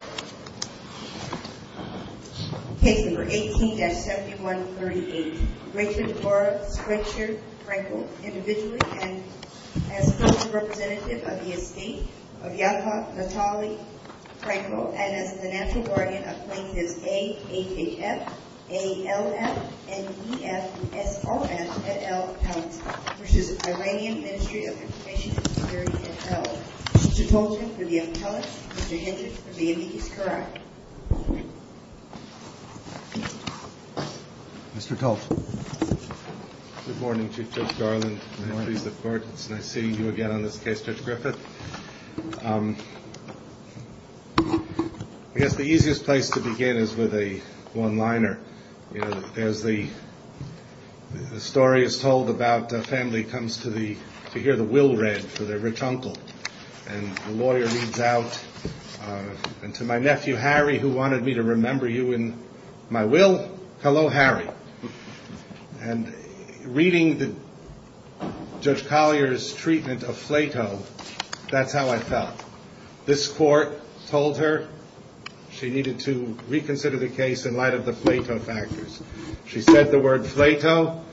and Security, et al. Mr. Toljan, for the appellate. Mr. Hendrick, for the immediate appellate. Good morning, Chief Judge Garland. Nice seeing you again on this case, Judge Griffith. I guess the easiest place to begin is with a one-liner. You know, as the story is told about a family comes to hear the will read for their rich uncle, and the lawyer reads out, and to my nephew Harry, who wanted me to remember you in my will, hello Harry. And reading Judge Collier's treatment of Plato, that's how I felt. This court told her she needed to reconsider the case in light of the Plato factors. She said the word Plato.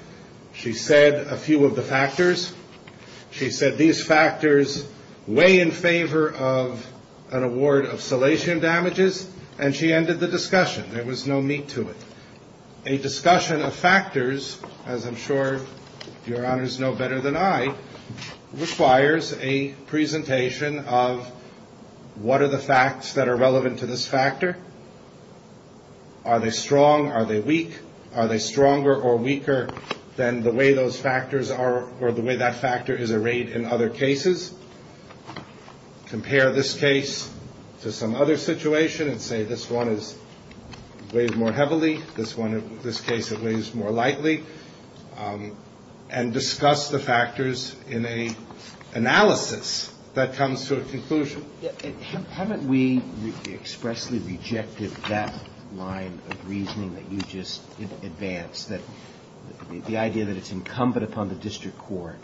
She said a few of the factors. She said these factors weigh in favor of an award of salatium damages, and she ended the discussion. There was no meat to it. A discussion of factors, as I'm sure your honors know better than I, requires a presentation of what are the facts that are relevant to this factor. Are they strong? Are they weak? Are they stronger or weaker than the way those factors are, or the way that factor is arrayed in other cases? Compare this case to some other situation and say this one weighs more heavily, this case weighs more lightly, and discuss the factors in an analysis that comes to a conclusion. Haven't we expressly rejected that line of reasoning that you just advanced? The idea that it's incumbent upon the district court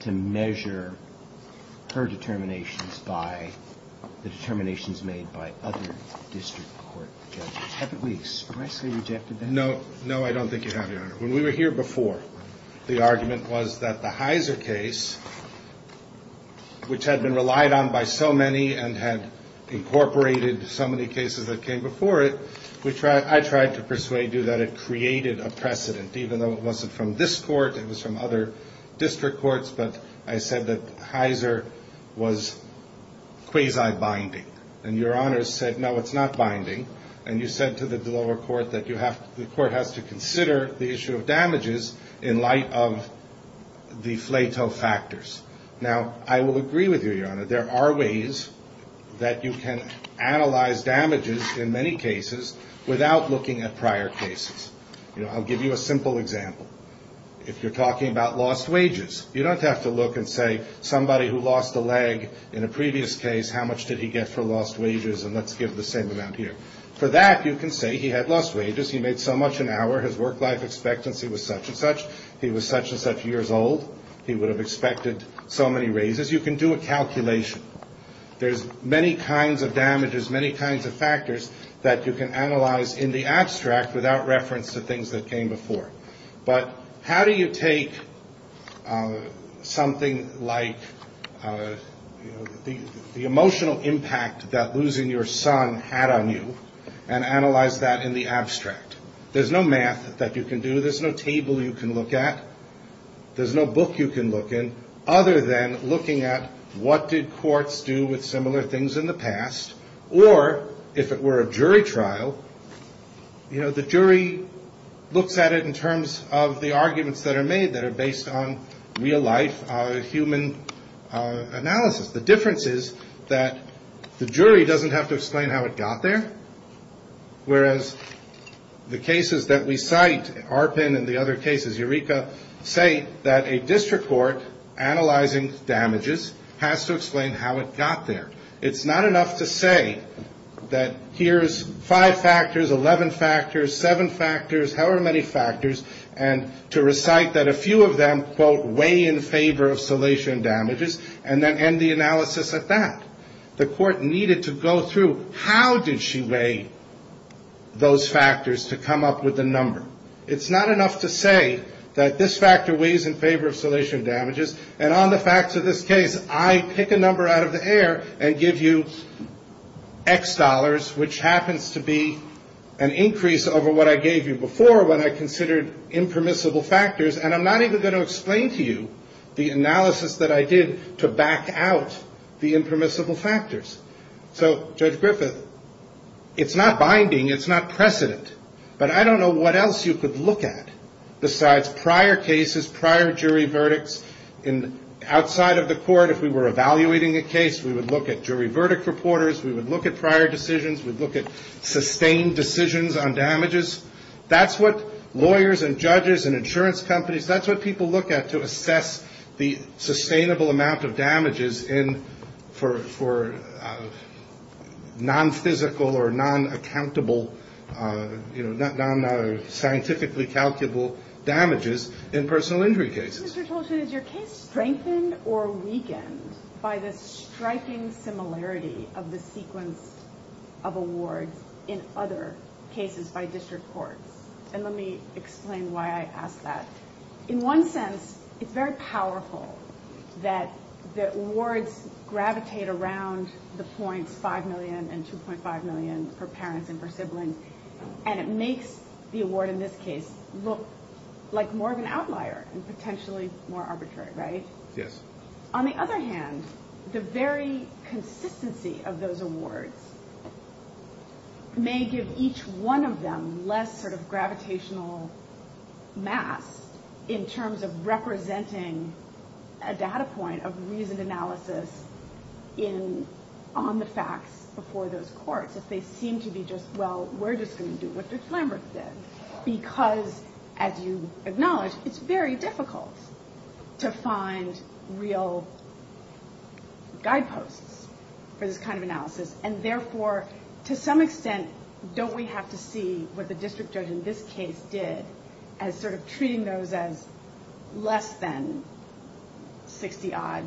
to measure her determinations by the determinations made by other district court judges. No, I don't think you have, your honor. When we were here before, the argument was that the Heiser case, which had been relied on by so many and had incorporated so many cases that came before it, I tried to persuade you that it created a precedent, even though it wasn't from this court, it was from other district courts, but I said that Heiser was quasi-binding. And your honor said, no, it's not binding, and you said to the lower court that the court has to consider the issue of damages in light of the flato factors. Now, I will agree with you, your honor, there are ways that you can analyze damages in many cases without looking at prior cases. I'll give you a simple example. If you're talking about lost wages, you don't have to look and say somebody who lost a leg in a previous case, how much did he get for lost wages, and let's give the same amount here. For that, you can say he had lost wages, he made so much an hour, his work life expectancy was such and such, he was such and such years old, he would have expected so many raises. You can do a calculation. There's many kinds of damages, many kinds of factors that you can analyze in the abstract without reference to things that came before. But how do you take something like the emotional impact that losing your son had on you and analyze that in the abstract? There's no math that you can do, there's no table you can look at, there's no book you can look in other than looking at what did courts do with similar things in the past, or if it were a jury trial, you know, the jury looks at it in terms of the arguments that are made that are based on real life human analysis. The difference is that the jury doesn't have to explain how it got there, whereas the cases that we cite, ARPIN and the other cases, Eureka, say that a district court analyzing damages has to explain how it got there. It's not enough to say that here's five factors, 11 factors, seven factors, however many factors, and to recite that a few of them, quote, weigh in favor of salation damages, and then end the analysis at that. The court needed to go through how did she weigh those factors to come up with the number. It's not enough to say that this factor weighs in favor of salation damages, and on the facts of this case, I pick a number out of the air and give you X dollars, which happens to be an increase over what I gave you before when I considered impermissible factors, and I'm not even going to explain to you the analysis that I did to back out the impermissible factors. So, Judge Griffith, it's not binding, it's not precedent, but I don't know what else you could look at besides prior cases, prior jury verdicts. Outside of the court, if we were evaluating a case, we would look at jury verdict reporters, we would look at prior decisions, we'd look at sustained decisions on damages. That's what lawyers and judges and insurance companies, that's what people look at to assess the sustainable amount of damages for non-physical or non-accountable, you know, scientifically calculable damages in personal injury cases. My question, Mr. Tolchin, is your case strengthened or weakened by the striking similarity of the sequence of awards in other cases by district courts? And let me explain why I ask that. In one sense, it's very powerful that the awards gravitate around the points 5 million and 2.5 million for parents and for siblings, and it makes the award in this case look like more of an outlier and potentially more arbitrary, right? Yes. On the other hand, the very consistency of those awards may give each one of them less sort of gravitational mass in terms of representing a data point of reasoned analysis on the facts before those courts. If they seem to be just, well, we're just going to do what Dick Flanberth did, because as you acknowledge, it's very difficult to find real guideposts for this kind of analysis. And therefore, to some extent, don't we have to see what the district judge in this case did as sort of treating those as less than 60 odd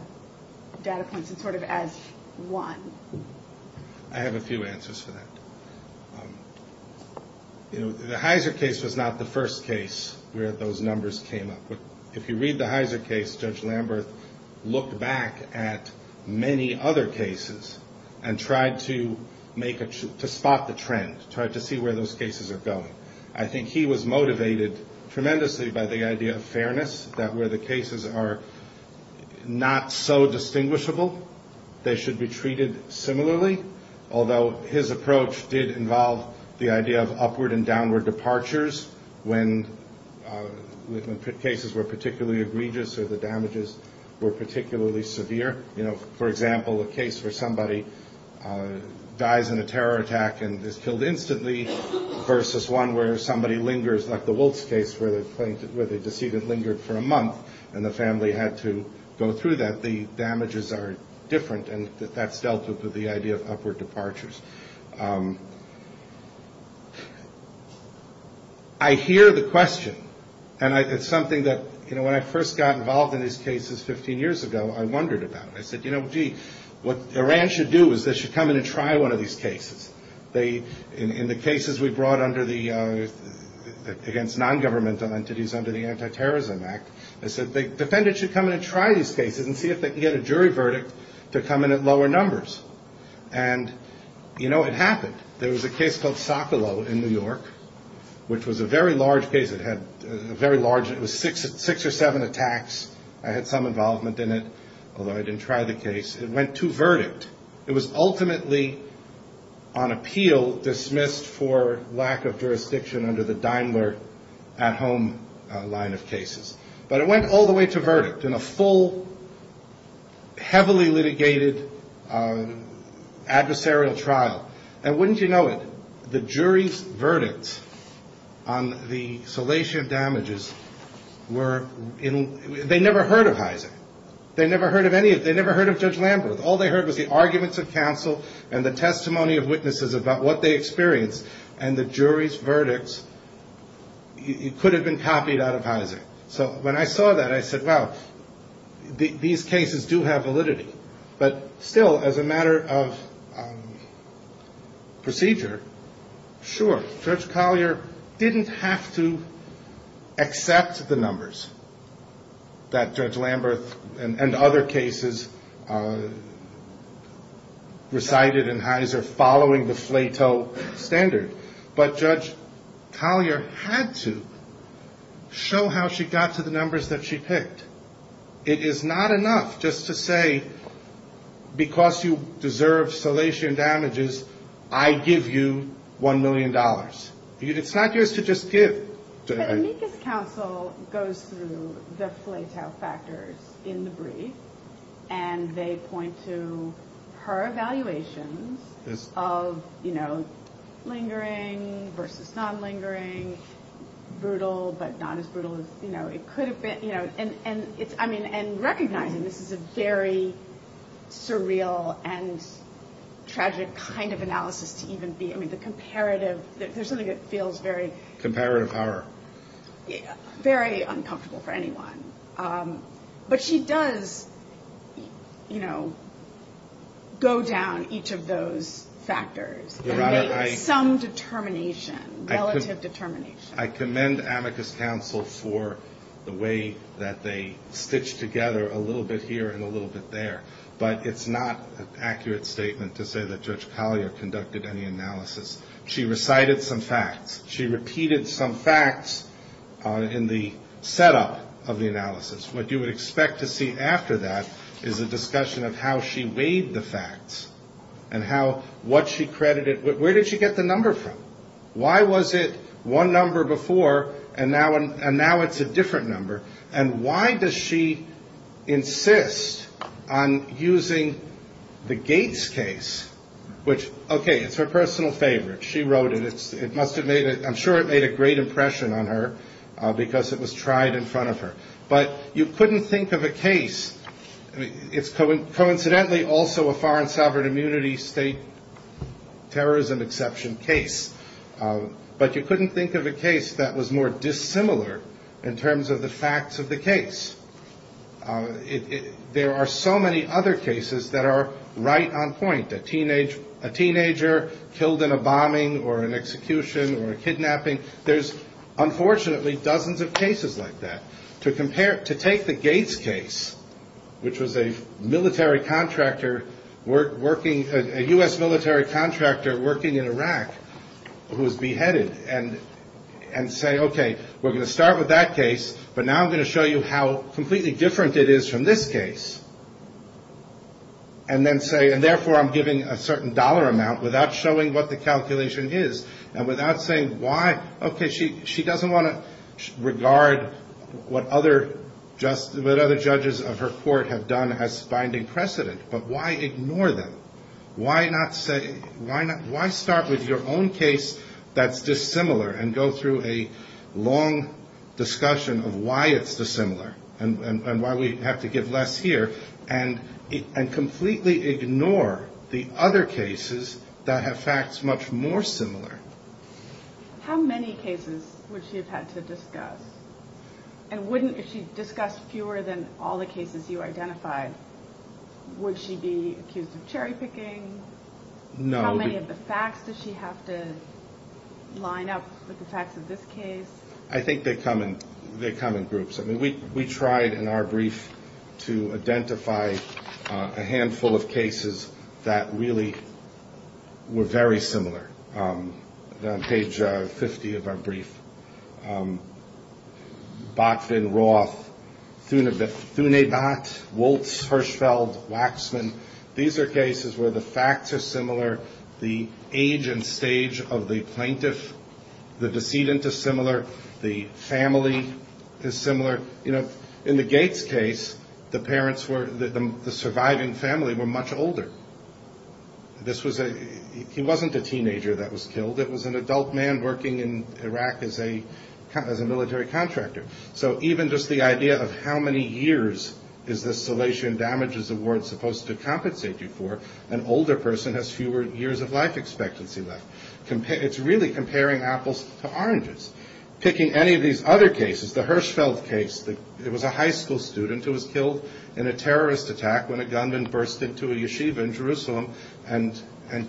data points and sort of as one? I have a few answers for that. The Heiser case was not the first case where those numbers came up. If you read the Heiser case, Judge Flanberth looked back at many other cases and tried to spot the trend, tried to see where those cases are going. I think he was motivated tremendously by the idea of fairness, that where the cases are not so distinguishable, they should be treated similarly, although his approach did involve the idea of upward and downward departures when cases were particularly egregious or the damages were particularly severe. For example, a case where somebody dies in a terror attack and is killed instantly versus one where somebody lingers, like the Woltz case where the deceased lingered for a month and the family had to go through that, the damages are different and that's dealt with with the idea of upward departures. I hear the question, and it's something that when I first got involved in these cases 15 years ago, I wondered about. I said, you know, gee, what Iran should do is they should come in and try one of these cases. In the cases we brought against non-governmental entities under the Anti-Terrorism Act, they said defendants should come in and try these cases and see if they can get a jury verdict to come in at lower numbers. And, you know, it happened. There was a case called Socolow in New York, which was a very large case. It was six or seven attacks. I had some involvement in it, although I didn't try the case. It went to verdict. It was ultimately on appeal dismissed for lack of jurisdiction under the Daimler at-home line of cases. But it went all the way to verdict in a full, heavily litigated adversarial trial. And wouldn't you know it, the jury's verdicts on the salation of damages were, they never heard of Heiser. They never heard of Judge Lamberth. All they heard was the arguments of counsel and the testimony of witnesses about what they experienced, and the jury's verdicts could have been copied out of Heiser. So when I saw that, I said, well, these cases do have validity. But still, as a matter of procedure, sure, Judge Collier didn't have to accept the numbers that Judge Lamberth and other cases recited in Heiser following the FLATO standard. But Judge Collier had to show how she got to the numbers that she picked. It is not enough just to say, because you deserve salation damages, I give you $1 million. It's not yours to just give. But amicus counsel goes through the FLATO factors in the brief, and they point to her evaluations of lingering versus non-lingering, brutal but not as brutal as it could have been. And recognizing this is a very surreal and tragic kind of analysis to even be. I mean, the comparative, there's something that feels very. Comparative horror. Very uncomfortable for anyone. But she does, you know, go down each of those factors and make some determination, relative determination. I commend amicus counsel for the way that they stitch together a little bit here and a little bit there. But it's not an accurate statement to say that Judge Collier conducted any analysis. She recited some facts. She repeated some facts in the setup of the analysis. What you would expect to see after that is a discussion of how she weighed the facts and how, what she credited, where did she get the number from? Why was it one number before and now it's a different number? And why does she insist on using the Gates case, which, okay, it's her personal favorite. She wrote it. It must have made, I'm sure it made a great impression on her because it was tried in front of her. But you couldn't think of a case, it's coincidentally also a foreign sovereign immunity state terrorism exception case. But you couldn't think of a case that was more dissimilar in terms of the facts of the case. There are so many other cases that are right on point. A teenage, a teenager killed in a bombing or an execution or a kidnapping. There's unfortunately dozens of cases like that. To compare, to take the Gates case, which was a military contractor working, a U.S. military contractor working in Iraq who was beheaded and say, okay, we're going to start with that case, but now I'm going to show you how completely different it is from this case. And then say, and therefore I'm giving a certain dollar amount without showing what the calculation is and without saying why, okay, she doesn't want to regard what other judges of her court have done as binding precedent, but why ignore them? Why start with your own case that's dissimilar and go through a long discussion of why it's dissimilar and why we have to give less here and completely ignore the other cases that have facts much more similar. How many cases would she have had to discuss? And wouldn't, if she discussed fewer than all the cases you identified, would she be accused of cherry picking? How many of the facts does she have to line up with the facts of this case? I think they come in groups. I mean, we tried in our brief to identify a handful of cases that really were very similar. On page 50 of our brief, Botvin, Roth, Thunebot, Woltz, Hirschfeld, Waxman. These are cases where the facts are similar, the age and stage of the plaintiff, the decedent is similar, the family is similar. In the Gates case, the surviving family were much older. He wasn't a teenager that was killed. It was an adult man working in Iraq as a military contractor. So even just the idea of how many years is this Salation Damages Award supposed to compensate you for, an older person has fewer years of life expectancy left. It's really comparing apples to oranges. Picking any of these other cases, the Hirschfeld case, it was a high school student who was killed in a terrorist attack when a gunman burst into a yeshiva in Jerusalem and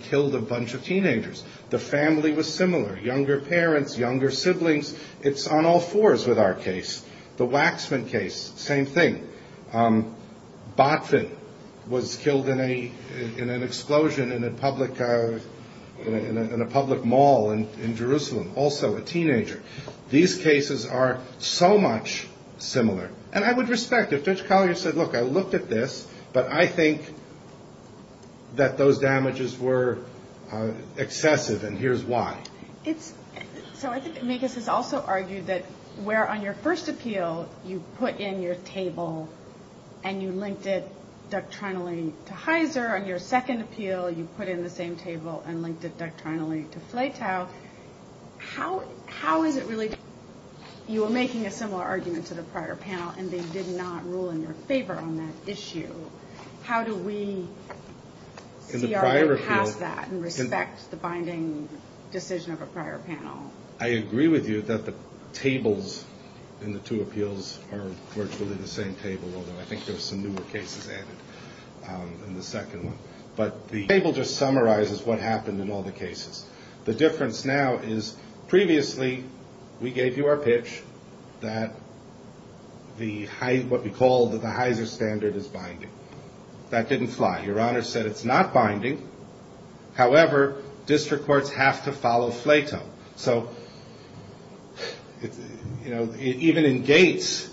killed a bunch of teenagers. The family was similar. Younger parents, younger siblings. It's on all fours with our case. The Waxman case, same thing. Botvin was killed in an explosion in a public mall in Jerusalem, also a teenager. These cases are so much similar. And I would respect if Judge Collier said, look, I looked at this, but I think that those damages were excessive and here's why. So I think Megas has also argued that where on your first appeal you put in your table and you linked it doctrinally to Heizer, on your second appeal you put in the same table and linked it doctrinally to Fletow. How is it related? You were making a similar argument to the prior panel and they did not rule in your favor on that issue. How do we see our way past that and respect the binding decision of a prior panel? I agree with you that the tables in the two appeals are virtually the same table, although I think there are some newer cases added in the second one. But the table just summarizes what happened in all the cases. The difference now is previously we gave you our pitch that what we called the Heizer standard is binding. That didn't fly. Your Honor said it's not binding. However, district courts have to follow Fletow. So even in Gates,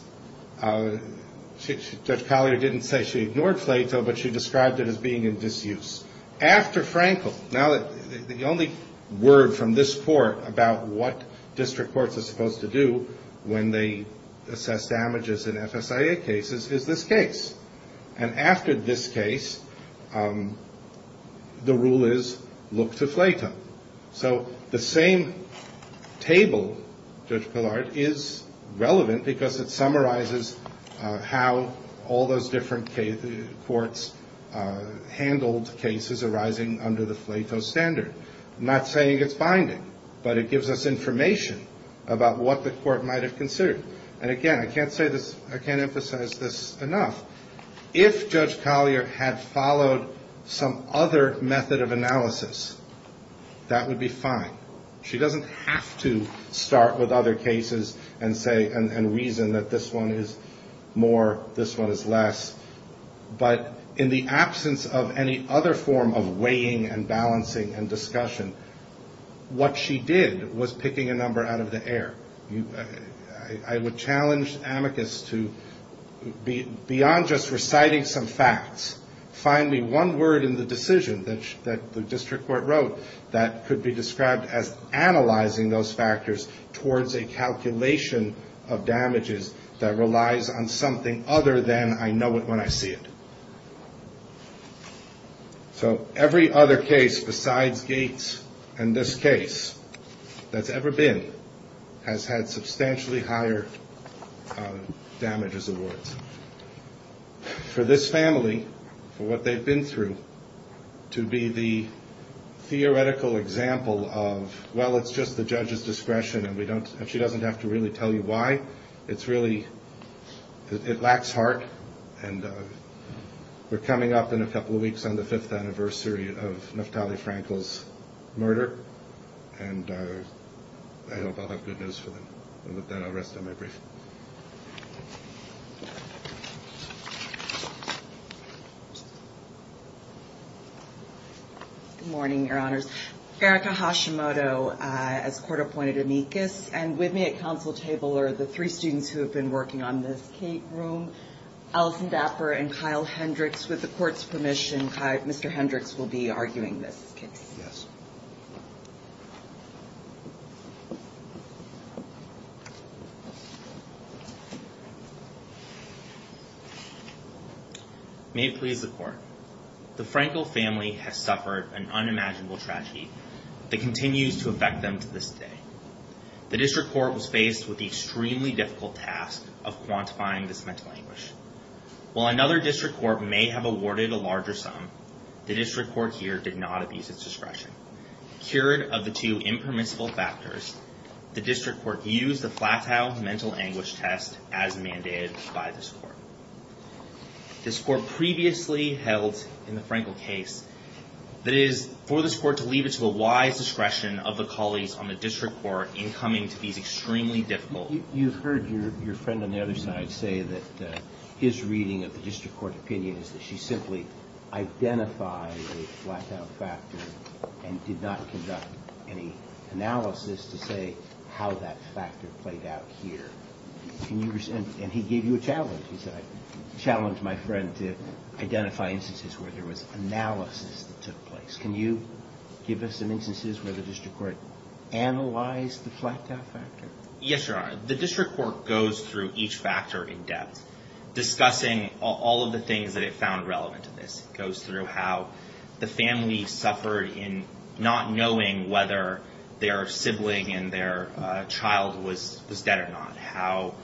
Judge Collier didn't say she ignored Fletow, but she described it as being in disuse. After Frankel, now the only word from this court about what district courts are supposed to do when they assess damages in FSIA cases is this case. And after this case, the rule is look to Fletow. So the same table, Judge Collier, is relevant because it summarizes how all those different courts handled cases arising under the Fletow standard. I'm not saying it's binding, but it gives us information about what the court might have considered. And again, I can't emphasize this enough. If Judge Collier had followed some other method of analysis, that would be fine. She doesn't have to start with other cases and reason that this one is more, this one is less. But in the absence of any other form of weighing and balancing and discussion, what she did was picking a number out of the air. I would challenge amicus to, beyond just reciting some facts, find me one word in the decision that the district court wrote that could be described as analyzing those factors towards a calculation of damages that relies on something other than I know it when I see it. So every other case besides Gates and this case that's ever been has had substantially higher damages awards. For this family, for what they've been through, to be the theoretical example of, well, it's just the judge's discretion and she doesn't have to really tell you why. It's really, it lacks heart. And we're coming up in a couple of weeks on the fifth anniversary of Naftali Frankel's murder. And I hope I'll have good news for them. And with that, I'll rest on my brief. Good morning, your honors. Erica Hashimoto as court appointed amicus. And with me at council table are the three students who have been working on this case. Alison Dapper and Kyle Hendricks with the court's permission. Mr. Hendricks will be arguing this case. Yes. May it please the court. The Frankel family has suffered an unimaginable tragedy that continues to affect them to this day. The district court was faced with the extremely difficult task of quantifying this mental anguish. While another district court may have awarded a larger sum, the district court here did not abuse its discretion. Cured of the two impermissible factors, the district court used the flat-out mental anguish test as mandated by this court. This court previously held in the Frankel case that it is for this court to leave it to the wise discretion of the colleagues on the district court in coming to these extremely difficult... And did not conduct any analysis to say how that factor played out here. And he gave you a challenge. He said, I challenge my friend to identify instances where there was analysis that took place. Can you give us some instances where the district court analyzed the flat-out factor? Yes, Your Honor. The district court goes through each factor in depth, discussing all of the things that it found relevant to this. It goes through how the family suffered in not knowing whether their sibling and their child was dead or not. How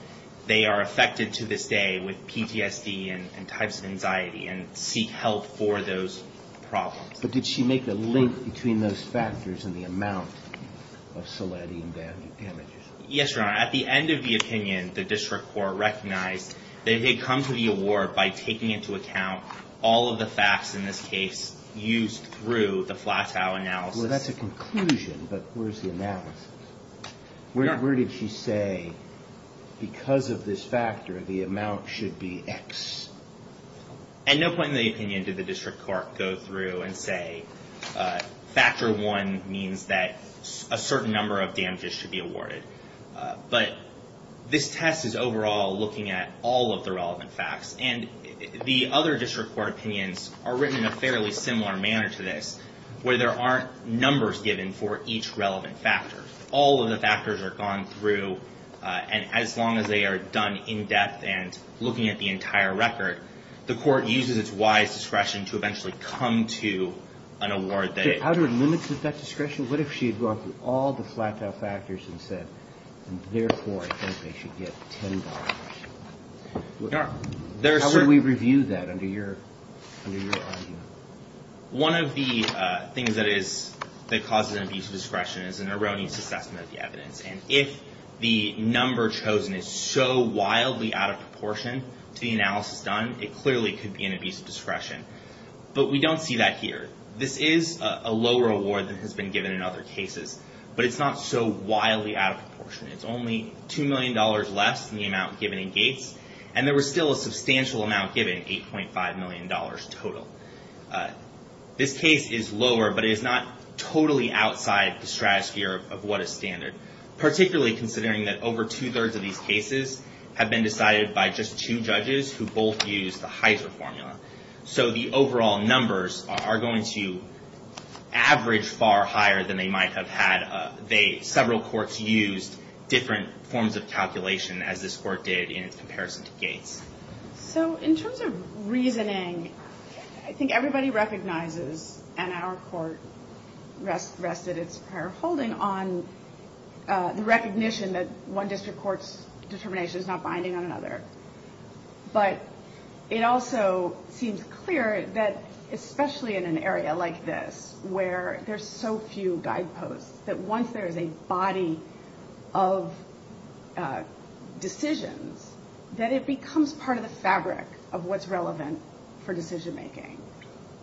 they are affected to this day with PTSD and types of anxiety and seek help for those problems. But did she make a link between those factors and the amount of selenium damages? Yes, Your Honor. At the end of the opinion, the district court recognized that it had come to the award by taking into account all of the facts in this case used through the flat-out analysis. Well, that's a conclusion, but where's the analysis? Where did she say, because of this factor, the amount should be X? At no point in the opinion did the district court go through and say, factor one means that a certain number of damages should be awarded. But this test is overall looking at all of the relevant facts. And the other district court opinions are written in a fairly similar manner to this, where there aren't numbers given for each relevant factor. All of the factors are gone through, and as long as they are done in depth and looking at the entire record, the court uses its wise discretion to eventually come to an award. How do we limit that discretion? What if she had gone through all the flat-out factors and said, therefore, I think they should get $10? How would we review that under your argument? One of the things that causes an abuse of discretion is an erroneous assessment of the evidence. And if the number chosen is so wildly out of proportion to the analysis done, it clearly could be an abuse of discretion. But we don't see that here. This is a lower award than has been given in other cases, but it's not so wildly out of proportion. It's only $2 million less than the amount given in Gates, and there was still a substantial amount given, $8.5 million total. This case is lower, but it is not totally outside the stratosphere of what is standard, particularly considering that over two-thirds of these cases have been decided by just two judges who both used the Heiser formula. So the overall numbers are going to average far higher than they might have had several courts use different forms of calculation as this court did in its comparison to Gates. So in terms of reasoning, I think everybody recognizes, and our court rested its fair holding on the recognition that one district court's determination is not binding on another. But it also seems clear that, especially in an area like this, where there's so few guideposts, that once there's a body of decisions, that it becomes part of the fabric of what's relevant for decision-making,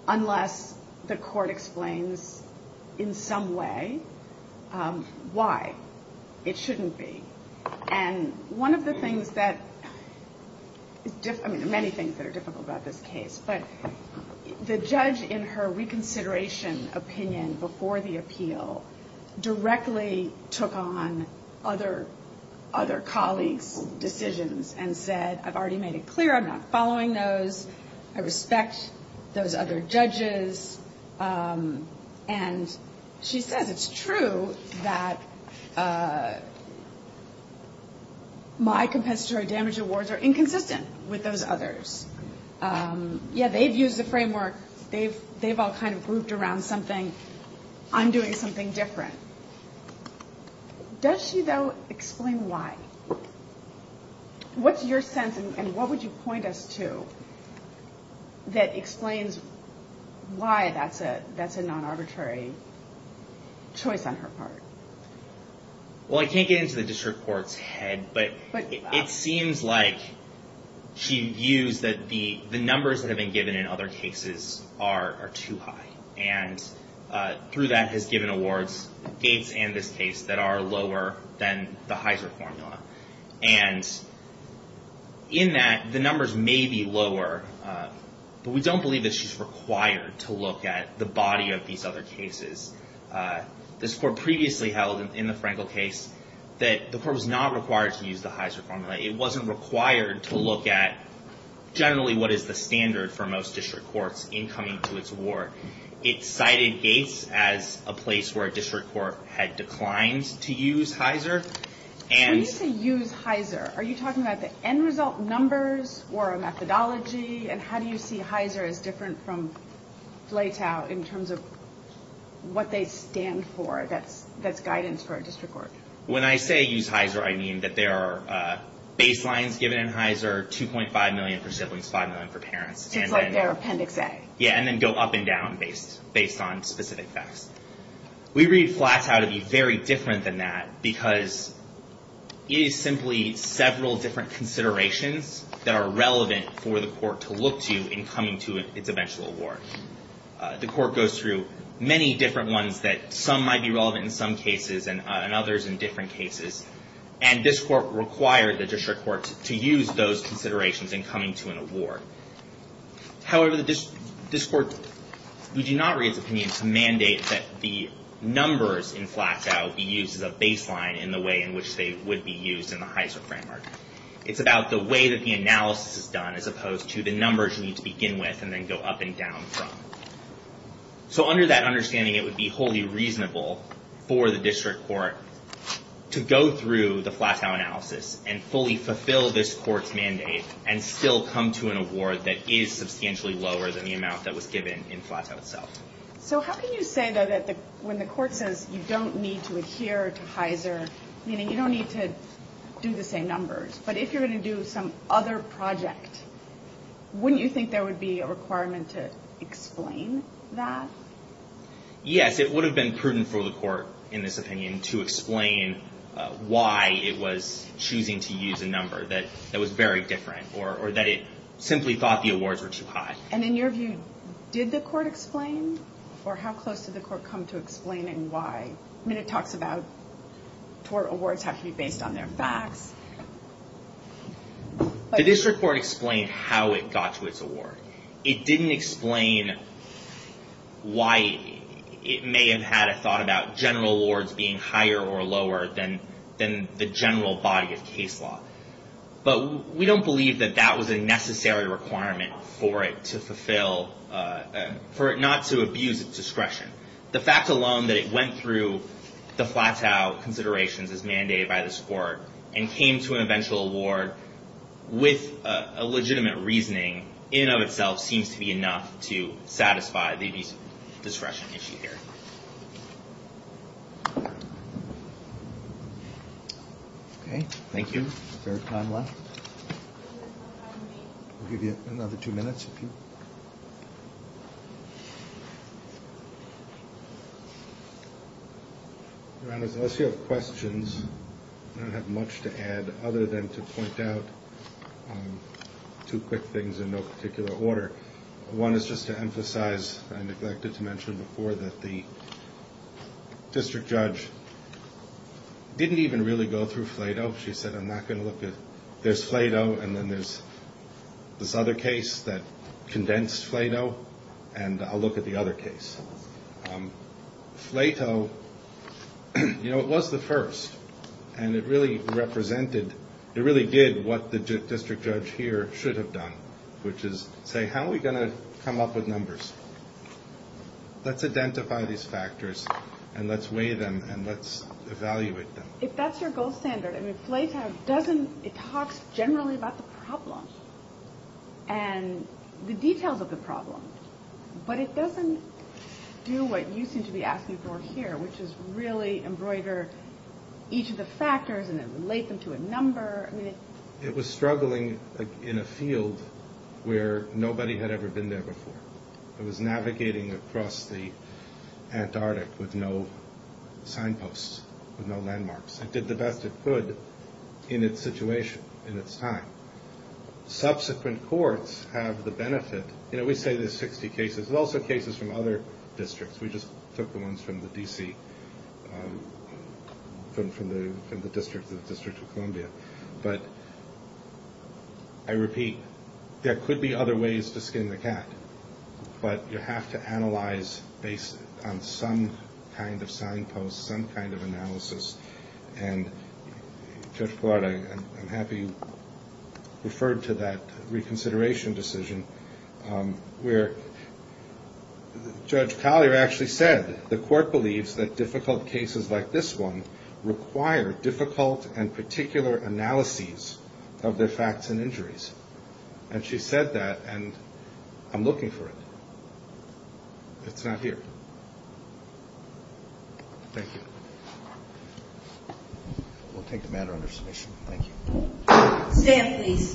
unless the court explains in some way why it shouldn't be. And one of the things that — I mean, there are many things that are difficult about this case, but the judge, in her reconsideration opinion before the appeal, directly took on other colleagues' decisions and said, I've already made it clear I'm not following those. I respect those other judges. And she says, it's true that my compensatory damage awards are inconsistent with those others. Yeah, they've used the framework. They've all kind of grouped around something. I'm doing something different. Does she, though, explain why? What's your sense, and what would you point us to, that explains why that's a non-arbitrary choice on her part? Well, I can't get into the district court's head, but it seems like she views that the numbers that have been given in other cases are too high. And through that, has given awards, Gates and this case, that are lower than the Heiser formula. And in that, the numbers may be lower, but we don't believe that she's required to look at the body of these other cases. This court previously held, in the Frankel case, that the court was not required to use the Heiser formula. It wasn't required to look at, generally, what is the standard for most district courts in coming to its award. It cited Gates as a place where a district court had declined to use Heiser. When you say use Heiser, are you talking about the end result numbers, or a methodology? And how do you see Heiser as different from Flay-Tao in terms of what they stand for, that's guidance for a district court? When I say use Heiser, I mean that there are baselines given in Heiser, 2.5 million for siblings, 5 million for parents. Just like their Appendix A. Yeah, and then go up and down based on specific facts. We read Flay-Tao to be very different than that, because it is simply several different considerations that are relevant for the court to look to in coming to its eventual award. The court goes through many different ones that some might be relevant in some cases and others in different cases. And this court required the district court to use those considerations in coming to an award. However, this court did not raise opinion to mandate that the numbers in Flay-Tao be used as a baseline in the way in which they would be used in the Heiser framework. It's about the way that the analysis is done as opposed to the numbers you need to begin with and then go up and down from. So under that understanding, it would be wholly reasonable for the district court to go through the Flay-Tao analysis and fully fulfill this court's mandate and still come to an award that is substantially lower than the amount that was given in Flay-Tao itself. So how can you say that when the court says you don't need to adhere to Heiser, meaning you don't need to do the same numbers, but if you're going to do some other project, wouldn't you think there would be a requirement to explain that? Yes, it would have been prudent for the court in this opinion to explain why it was choosing to use a number that was very different or that it simply thought the awards were too high. And in your view, did the court explain, or how close did the court come to explaining why? I mean, it talks about tort awards have to be based on their facts. The district court explained how it got to its award. It didn't explain why it may have had a thought about general awards being higher or lower than the general body of case law. But we don't believe that that was a necessary requirement for it not to abuse its discretion. The fact alone that it went through the Flay-Tao considerations as mandated by this court and came to an eventual award with a legitimate reasoning in and of itself seems to be enough to satisfy the discretion issue here. Okay, thank you. Is there time left? I'll give you another two minutes if you want. Your Honor, unless you have questions, I don't have much to add other than to point out two quick things in no particular order. One is just to emphasize, I neglected to mention before, that the district judge didn't even really go through Flay-Tao. She said, I'm not going to look at, there's Flay-Tao, and then there's this other case that condensed Flay-Tao, and I'll look at the other case. Flay-Tao, you know, it was the first, and it really represented, it really did what the district judge here should have done, which is say, how are we going to come up with numbers? Let's identify these factors, and let's weigh them, and let's evaluate them. If that's your gold standard, I mean, Flay-Tao doesn't, it talks generally about the problem and the details of the problem, but it doesn't do what you seem to be asking for here, which is really embroider each of the factors and then relate them to a number. It was struggling in a field where nobody had ever been there before. It was navigating across the Antarctic with no signposts, with no landmarks. It did the best it could in its situation, in its time. Subsequent courts have the benefit. You know, we say there's 60 cases. There's also cases from other districts. We just took the ones from the D.C., from the District of Columbia. But I repeat, there could be other ways to skin the cat, but you have to analyze based on some kind of signpost, some kind of analysis. And Judge Collard, I'm happy you referred to that reconsideration decision where Judge Collier actually said the court believes that difficult cases like this one require difficult and particular analyses of their facts and injuries. And she said that, and I'm looking for it. It's not here. Thank you. We'll take the matter under submission. Thank you.